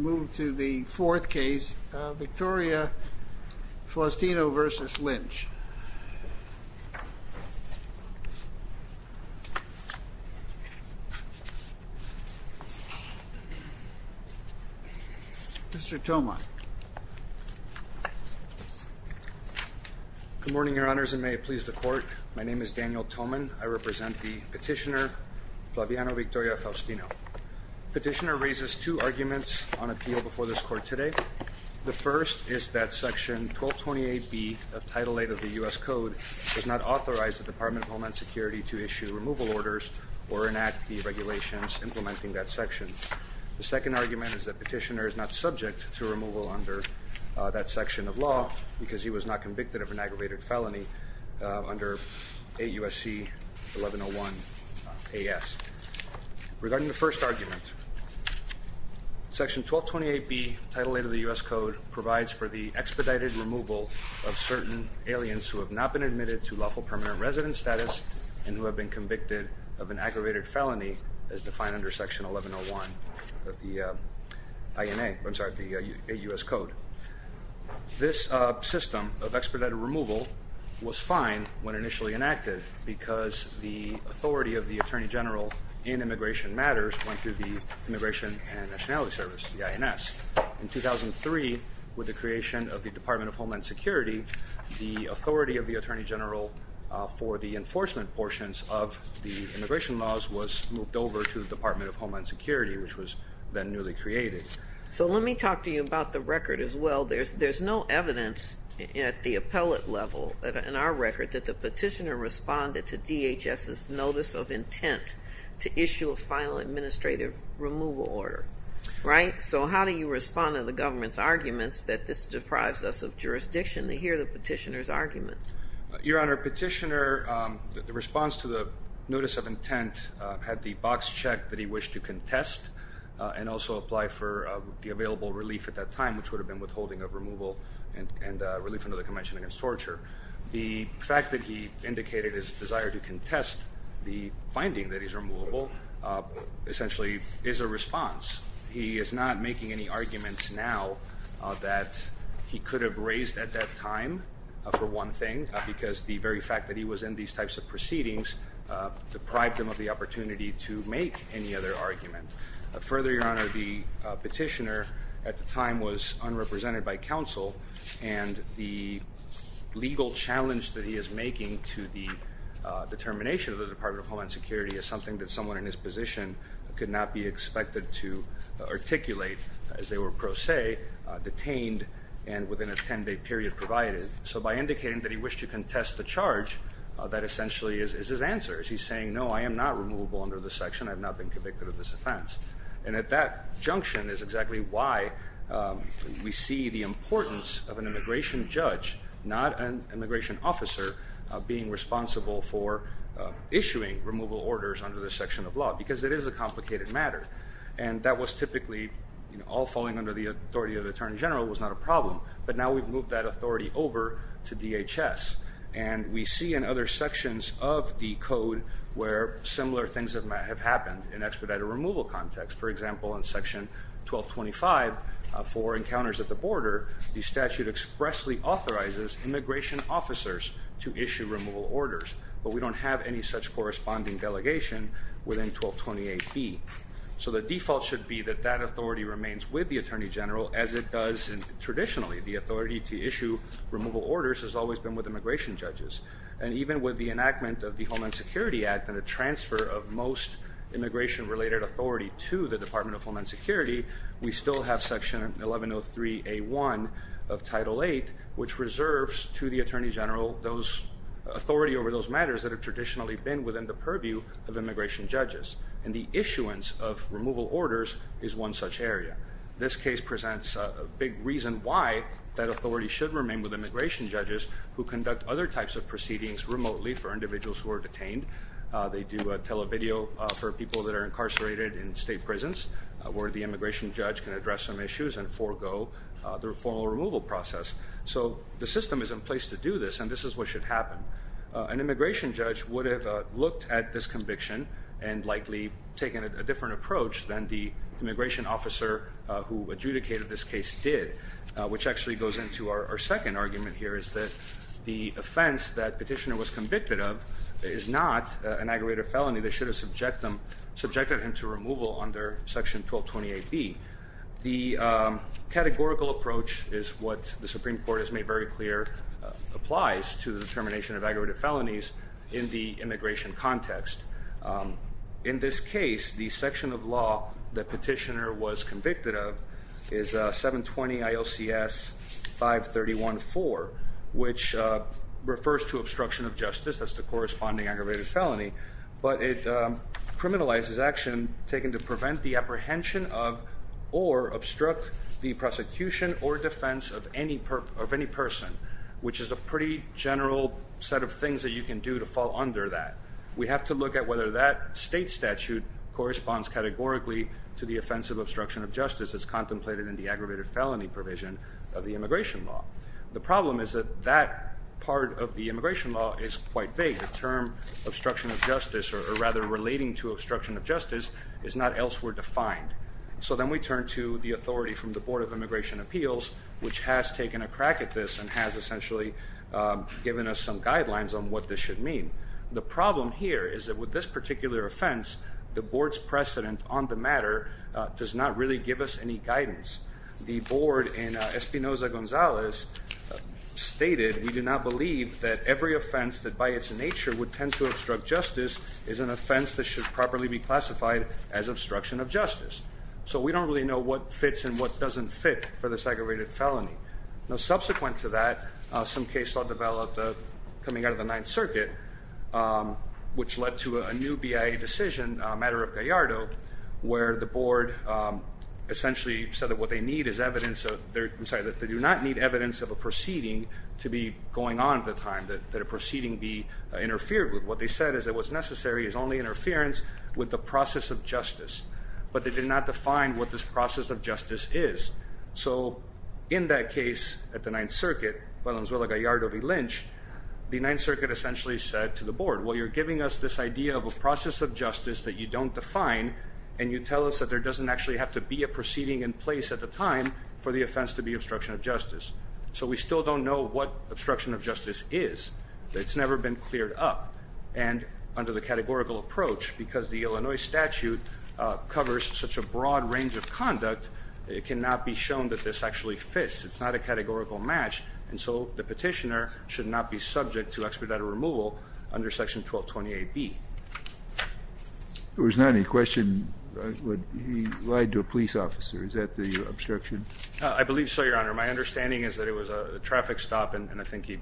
Move to the fourth case, Victoria-Faustino v. Lynch. Mr. Thoman. Good morning, Your Honors, and may it please the Court. My name is Daniel Thoman. I represent the petitioner, Flaviano Victoria-Faustino. The petitioner raises two arguments on appeal before this Court today. The first is that Section 1228B of Title VIII of the U.S. Code does not authorize the Department of Homeland Security to issue removal orders or enact the regulations implementing that section. The second argument is that petitioner is not subject to removal under that section of law because he was not convicted of an aggravated felony under AUSC 1101-AS. Regarding the first argument, Section 1228B, Title VIII of the U.S. Code provides for the expedited removal of certain aliens who have not been admitted to lawful permanent resident status and who have been convicted of an aggravated felony as defined under Section 1101 of the INA, I'm sorry, the AUS Code. This system of expedited removal was fine when initially enacted because the authority of the Attorney General in Immigration Matters went to the Immigration and Nationality Service, the INS. In 2003, with the creation of the Department of Homeland Security, the authority of the Attorney General for the enforcement portions of the immigration laws was moved over to the Department of Homeland Security, which was then newly created. So let me talk to you about the record as well. There's no evidence at the appellate level in our record that the petitioner responded to DHS's notice of intent to issue a final administrative removal order, right? So how do you respond to the government's arguments that this deprives us of jurisdiction to hear the petitioner's arguments? Your Honor, petitioner, the response to the notice of intent, had the box checked that he wished to contest and also apply for the available relief at that time, which would have been withholding of removal and relief under the Convention Against Torture. The fact that he indicated his desire to contest the finding that he's removable essentially is a response. He is not making any arguments now that he could have raised at that time for one thing because the very fact that he was in these types of proceedings deprived him of the opportunity to make any other argument. Further, Your Honor, the petitioner at the time was unrepresented by counsel and the legal challenge that he is making to the determination of the Department of Homeland Security is something that someone in his position could not be expected to articulate as they were pro se detained and within a 10-day period provided. So by indicating that he wished to contest the charge, that essentially is his answer. He's saying, no, I am not removable under this section. I have not been convicted of this offense. And at that junction is exactly why we see the importance of an immigration judge, not an immigration officer, being responsible for issuing removal orders under this section of law because it is a complicated matter. And that was typically all falling under the authority of the Attorney General was not a problem. But now we've moved that authority over to DHS. And we see in other sections of the code where similar things have happened in expedited removal context. For example, in Section 1225, for encounters at the border, the statute expressly authorizes immigration officers to issue removal orders. But we don't have any such corresponding delegation within 1228B. So the default should be that that authority remains with the Attorney General as it does traditionally. The authority to issue removal orders has always been with immigration judges. And even with the enactment of the Homeland Security Act and a transfer of most immigration-related authority to the Department of Homeland Security, we still have Section 1103A1 of Title VIII, which reserves to the Attorney General authority over those matters that have traditionally been within the purview of immigration judges. And the issuance of removal orders is one such area. This case presents a big reason why that authority should remain with immigration judges who conduct other types of proceedings remotely for individuals who are detained. They do televideo for people that are incarcerated in state prisons where the immigration judge can address some issues and forego the formal removal process. So the system is in place to do this, and this is what should happen. An immigration judge would have looked at this conviction and likely taken a different approach than the immigration officer who adjudicated this case did, which actually goes into our second argument here, is that the offense that petitioner was convicted of is not an aggravated felony. They should have subjected him to removal under Section 1228B. The categorical approach is what the Supreme Court has made very clear applies to the determination of aggravated felonies in the immigration context. In this case, the section of law that petitioner was convicted of is 720-ILCS-531-4, which refers to obstruction of justice as the corresponding aggravated felony, but it criminalizes action taken to prevent the apprehension of or obstruct the prosecution or defense of any person, which is a pretty general set of things that you can do to fall under that. We have to look at whether that state statute corresponds categorically to the offense of obstruction of justice as contemplated in the aggravated felony provision of the immigration law. The problem is that that part of the immigration law is quite vague. The term obstruction of justice, or rather relating to obstruction of justice, is not elsewhere defined. So then we turn to the authority from the Board of Immigration Appeals, which has taken a crack at this and has essentially given us some guidelines on what this should mean. The problem here is that with this particular offense, the board's precedent on the matter does not really give us any guidance. The board in Espinoza-Gonzalez stated, we do not believe that every offense that by its nature would tend to obstruct justice is an offense that should properly be classified as obstruction of justice. So we don't really know what fits and what doesn't fit for the aggravated felony. Subsequent to that, some case law developed coming out of the Ninth Circuit, which led to a new BIA decision, a matter of Gallardo, where the board essentially said that what they need is evidence of, I'm sorry, that they do not need evidence of a proceeding to be going on at the time, that a proceeding be interfered with. What they said is that what's necessary is only interference with the process of justice. But they did not define what this process of justice is. So in that case at the Ninth Circuit, Valenzuela-Gallardo v. Lynch, the Ninth Circuit essentially said to the board, well, you're giving us this idea of a process of justice that you don't define, and you tell us that there doesn't actually have to be a proceeding in place at the time for the offense to be obstruction of justice. So we still don't know what obstruction of justice is. It's never been cleared up. And under the categorical approach, because the Illinois statute covers such a broad range of conduct, it cannot be shown that this actually fits. It's not a categorical match. And so the Petitioner should not be subject to expedited removal under Section 1220AB. There was not any question that he lied to a police officer. Is that the obstruction? I believe so, Your Honor. My understanding is that it was a traffic stop, and I think he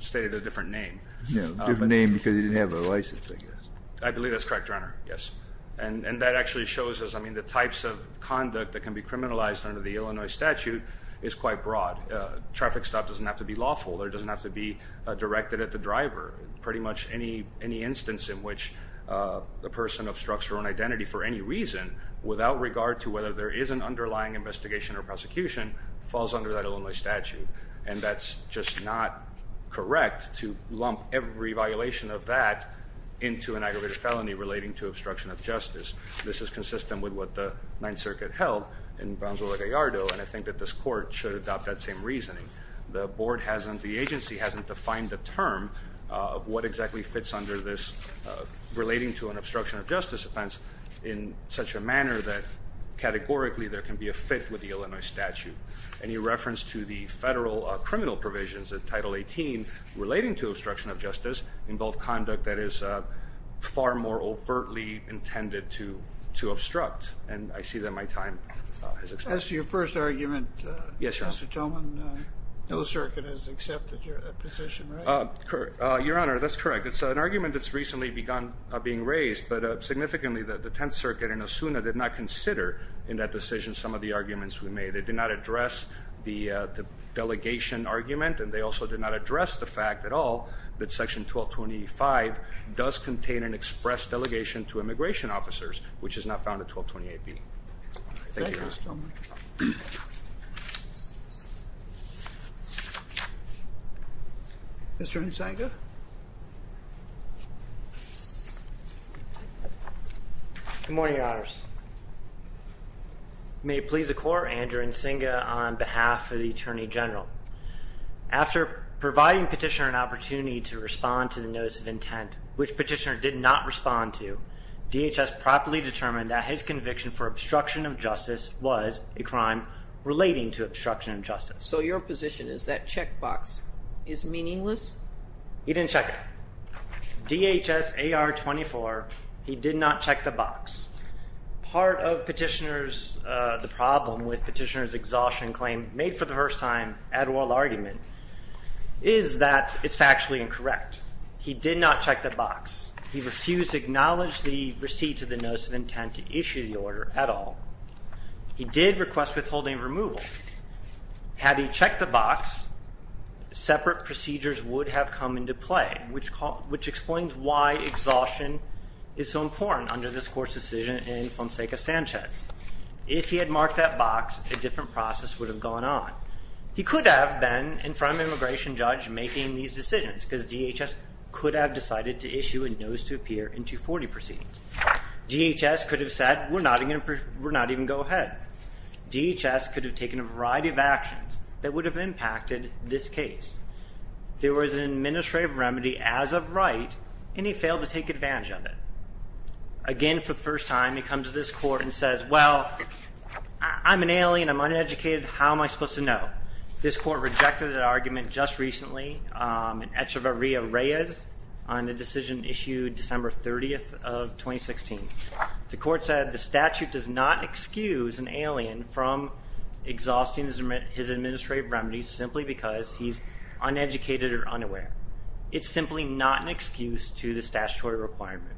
stated a different name. A different name because he didn't have a license, I guess. I believe that's correct, Your Honor. Yes. And that actually shows us, I mean, the types of conduct that can be criminalized under the Illinois statute is quite broad. Traffic stop doesn't have to be lawful. It doesn't have to be directed at the driver. Pretty much any instance in which a person obstructs your own identity for any reason without regard to whether there is an underlying investigation or prosecution falls under that Illinois statute. And that's just not correct to lump every violation of that into an aggravated felony relating to obstruction of justice. This is consistent with what the Ninth Circuit held in Gonzalo Gallardo, and I think that this Court should adopt that same reasoning. The board hasn't, the agency hasn't defined the term of what exactly fits under this relating to an obstruction of justice offense in such a manner that categorically there can be a fit with the Illinois statute. Any reference to the federal criminal provisions in Title 18 relating to obstruction of justice involve conduct that is far more overtly intended to obstruct. And I see that my time has expired. As to your first argument, Justice Tillman, no circuit has accepted your position, right? Your Honor, that's correct. It's an argument that's recently begun being raised, but significantly the Tenth Circuit and ASUNA did not consider in that decision some of the arguments we made. They did not address the delegation argument, and they also did not address the fact at all that Section 1225 does contain an express delegation to immigration officers, which is not found in 1228B. Thank you, Justice Tillman. Mr. Nzinga? Good morning, Your Honors. May it please the Court, Andrew Nzinga on behalf of the Attorney General. After providing Petitioner an opportunity to respond to the notice of intent, which Petitioner did not respond to, DHS properly determined that his conviction for obstruction of justice was a crime relating to obstruction of justice. So your position is that checkbox is meaningless? He didn't check it. DHS AR 24, he did not check the box. Part of Petitioner's, the problem with Petitioner's exhaustion claim, made for the first time at oral argument, is that it's factually incorrect. He did not check the box. He refused to acknowledge the receipt of the notice of intent to issue the order at all. He did request withholding removal. Had he checked the box, separate procedures would have come into play, which explains why exhaustion is so important under this Court's decision in Fonseca-Sanchez. If he had marked that box, a different process would have gone on. He could have been in front of an immigration judge making these decisions because DHS could have decided to issue a notice to appear in 240 proceedings. DHS could have said, we're not even going to go ahead. DHS could have taken a variety of actions that would have impacted this case. There was an administrative remedy as of right, and he failed to take advantage of it. Again, for the first time, he comes to this Court and says, well, I'm an alien. I'm uneducated. How am I supposed to know? This Court rejected that argument just recently in Echevarria-Reyes on the decision issued December 30th of 2016. The Court said the statute does not excuse an alien from exhausting his administrative remedies simply because he's uneducated or unaware. It's simply not an excuse to the statutory requirement.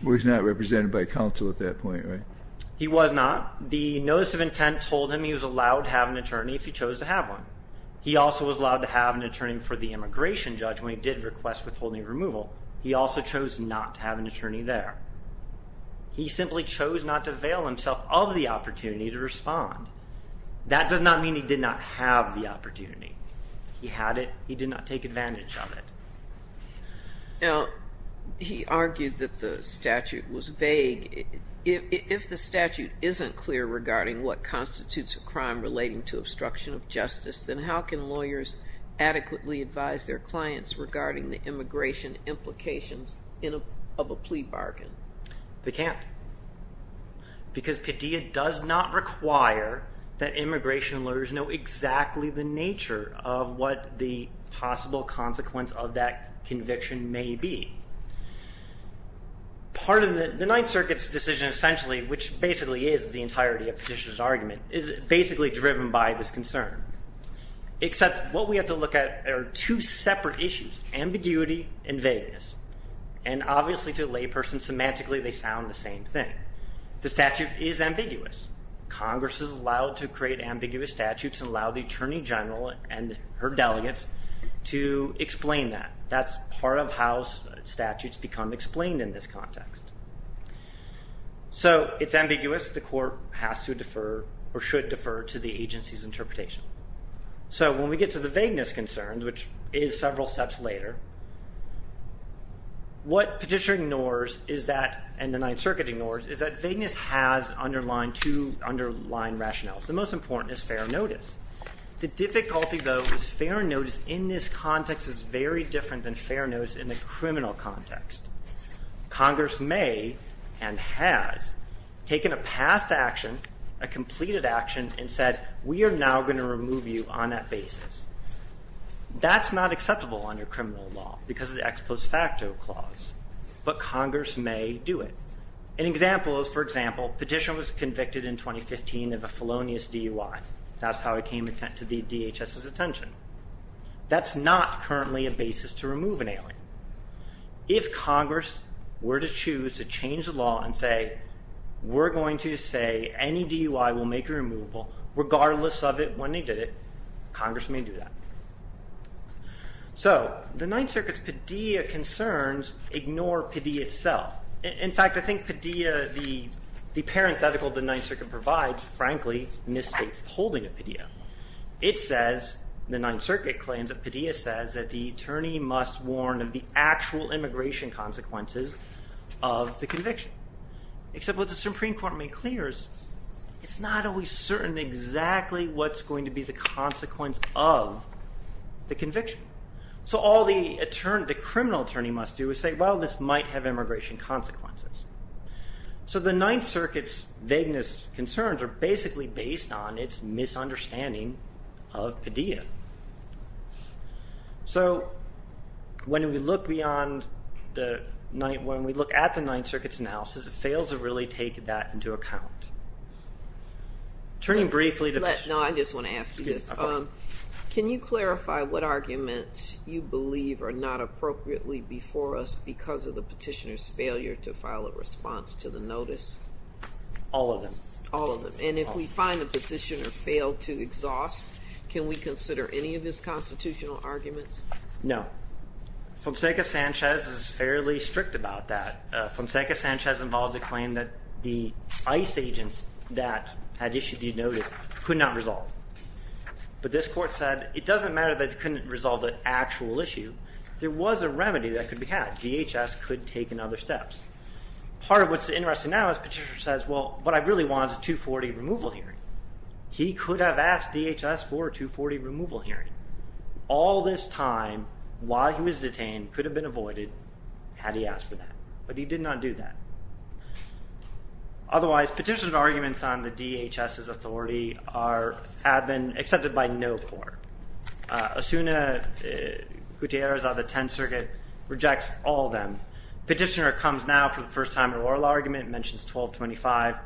He was not represented by counsel at that point, right? He was not. The notice of intent told him he was allowed to have an attorney if he chose to have one. He also was allowed to have an attorney for the immigration judge when he did request withholding removal. He also chose not to have an attorney there. He simply chose not to avail himself of the opportunity to respond. That does not mean he did not have the opportunity. He had it. He did not take advantage of it. Now, he argued that the statute was vague. If the statute isn't clear regarding what constitutes a crime relating to obstruction of justice, then how can lawyers adequately advise their clients regarding the immigration implications of a plea bargain? They can't. Because Padilla does not require that immigration lawyers know exactly the nature of what the possible consequence of that conviction may be. The Ninth Circuit's decision essentially, which basically is the entirety of Padilla's argument, is basically driven by this concern. Except what we have to look at are two separate issues, ambiguity and vagueness. Obviously, to a layperson, semantically they sound the same thing. The statute is ambiguous. Congress is allowed to create ambiguous statutes and allow the attorney general and her delegates to explain that. That's part of how statutes become explained in this context. It's ambiguous. The court has to defer or should defer to the agency's interpretation. When we get to the vagueness concern, which is several steps later, what Padilla ignores and the Ninth Circuit ignores is that vagueness has two underlying rationales. The most important is fair notice. The difficulty, though, is fair notice in this context is very different than fair notice in the criminal context. Congress may and has taken a past action, a completed action, and said, we are now going to remove you on that basis. That's not acceptable under criminal law because of the ex post facto clause. But Congress may do it. An example is, for example, Petitioner was convicted in 2015 of a felonious DUI. That's how it came to the DHS's attention. That's not currently a basis to remove an alien. If Congress were to choose to change the law and say, we're going to say any DUI will make a removal regardless of it when they did it, Congress may do that. So the Ninth Circuit's Padilla concerns ignore Padilla itself. In fact, I think Padilla, the parenthetical the Ninth Circuit provides, frankly, misstates the holding of Padilla. It says, the Ninth Circuit claims that Padilla says that the attorney must warn of the actual immigration consequences of the conviction. Except what the Supreme Court made clear is, it's not always certain exactly what's going to be the consequence of the conviction. So all the criminal attorney must do is say, well, this might have immigration consequences. So the Ninth Circuit's vagueness concerns are basically based on its misunderstanding of Padilla. So when we look beyond the Ninth, when we look at the Ninth Circuit's analysis, it fails to really take that into account. Turning briefly to... No, I just want to ask you this. Can you clarify what arguments you believe are not appropriately before us because of the petitioner's failure to file a response to the notice? All of them. All of them. And if we find the petitioner failed to exhaust, can we consider any of his constitutional arguments? No. Fonseca Sanchez is fairly strict about that. Fonseca Sanchez involved a claim that the ICE agents that had issued the notice could not resolve. But this court said, it doesn't matter that it couldn't resolve the actual issue. There was a remedy that could be had. DHS could have taken other steps. Part of what's interesting now is the petitioner says, well, what I really want is a 240 removal hearing. He could have asked DHS for a 240 removal hearing. All this time, while he was detained, could have been avoided had he asked for that. But he did not do that. Otherwise, petitioner's arguments on the DHS's authority have been accepted by no court. Osuna Gutierrez of the Tenth Circuit rejects all of them. Petitioner comes now for the first time to oral argument, mentions 1225.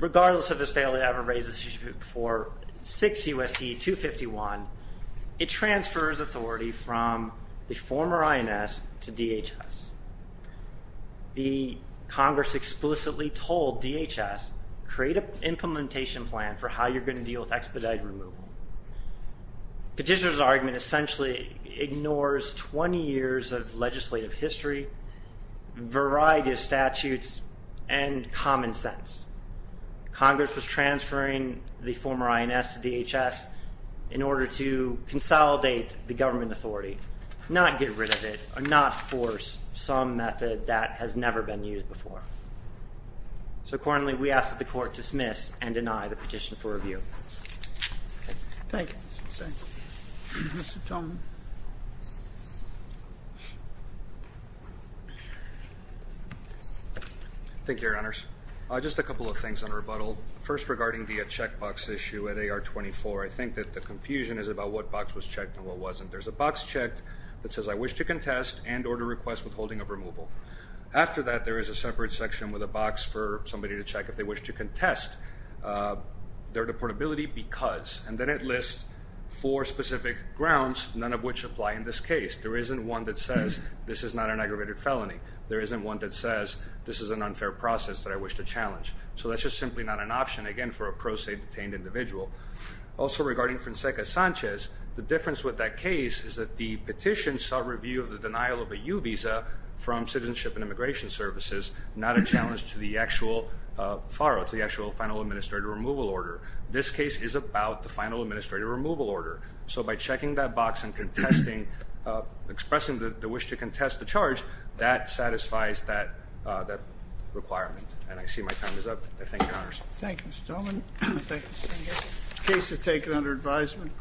Regardless of his failure to ever raise this issue before 6 U.S.C. 251, it transfers authority from the former INS to DHS. The Congress explicitly told DHS, create an implementation plan for how you're going to deal with expedited removal. Petitioner's argument essentially ignores 20 years of legislative history, variety of statutes, and common sense. Congress was transferring the former INS to DHS in order to consolidate the government authority, not get rid of it, or not force some method that has never been used before. So accordingly, we ask that the court dismiss and deny the petition for review. Thank you. Mr. Tolman. Thank you, Your Honors. Just a couple of things on rebuttal. First, regarding the checkbox issue at AR-24, I think that the confusion is about what box was checked and what wasn't. There's a box checked that says, I wish to contest and order request withholding of removal. After that, there is a separate section with a box for somebody to check if they wish to contest their deportability because. And then it lists four specific grounds, none of which apply in this case. There isn't one that says, this is not an aggravated felony. There isn't one that says, this is an unfair process that I wish to challenge. So that's just simply not an option, again, for a pro se detained individual. Also, regarding Fonseca Sanchez, the difference with that case is that the petition saw review of the denial of a U visa from Citizenship and Immigration Services, not a challenge to the actual FARO, to the actual final administrative removal order. This case is about the final administrative removal order. So by checking that box and expressing the wish to contest the charge, that satisfies that requirement. And I see my time is up. I thank Your Honors. Thank you, Mr. Tolman. Thank you, Senator. Case is taken under advisement.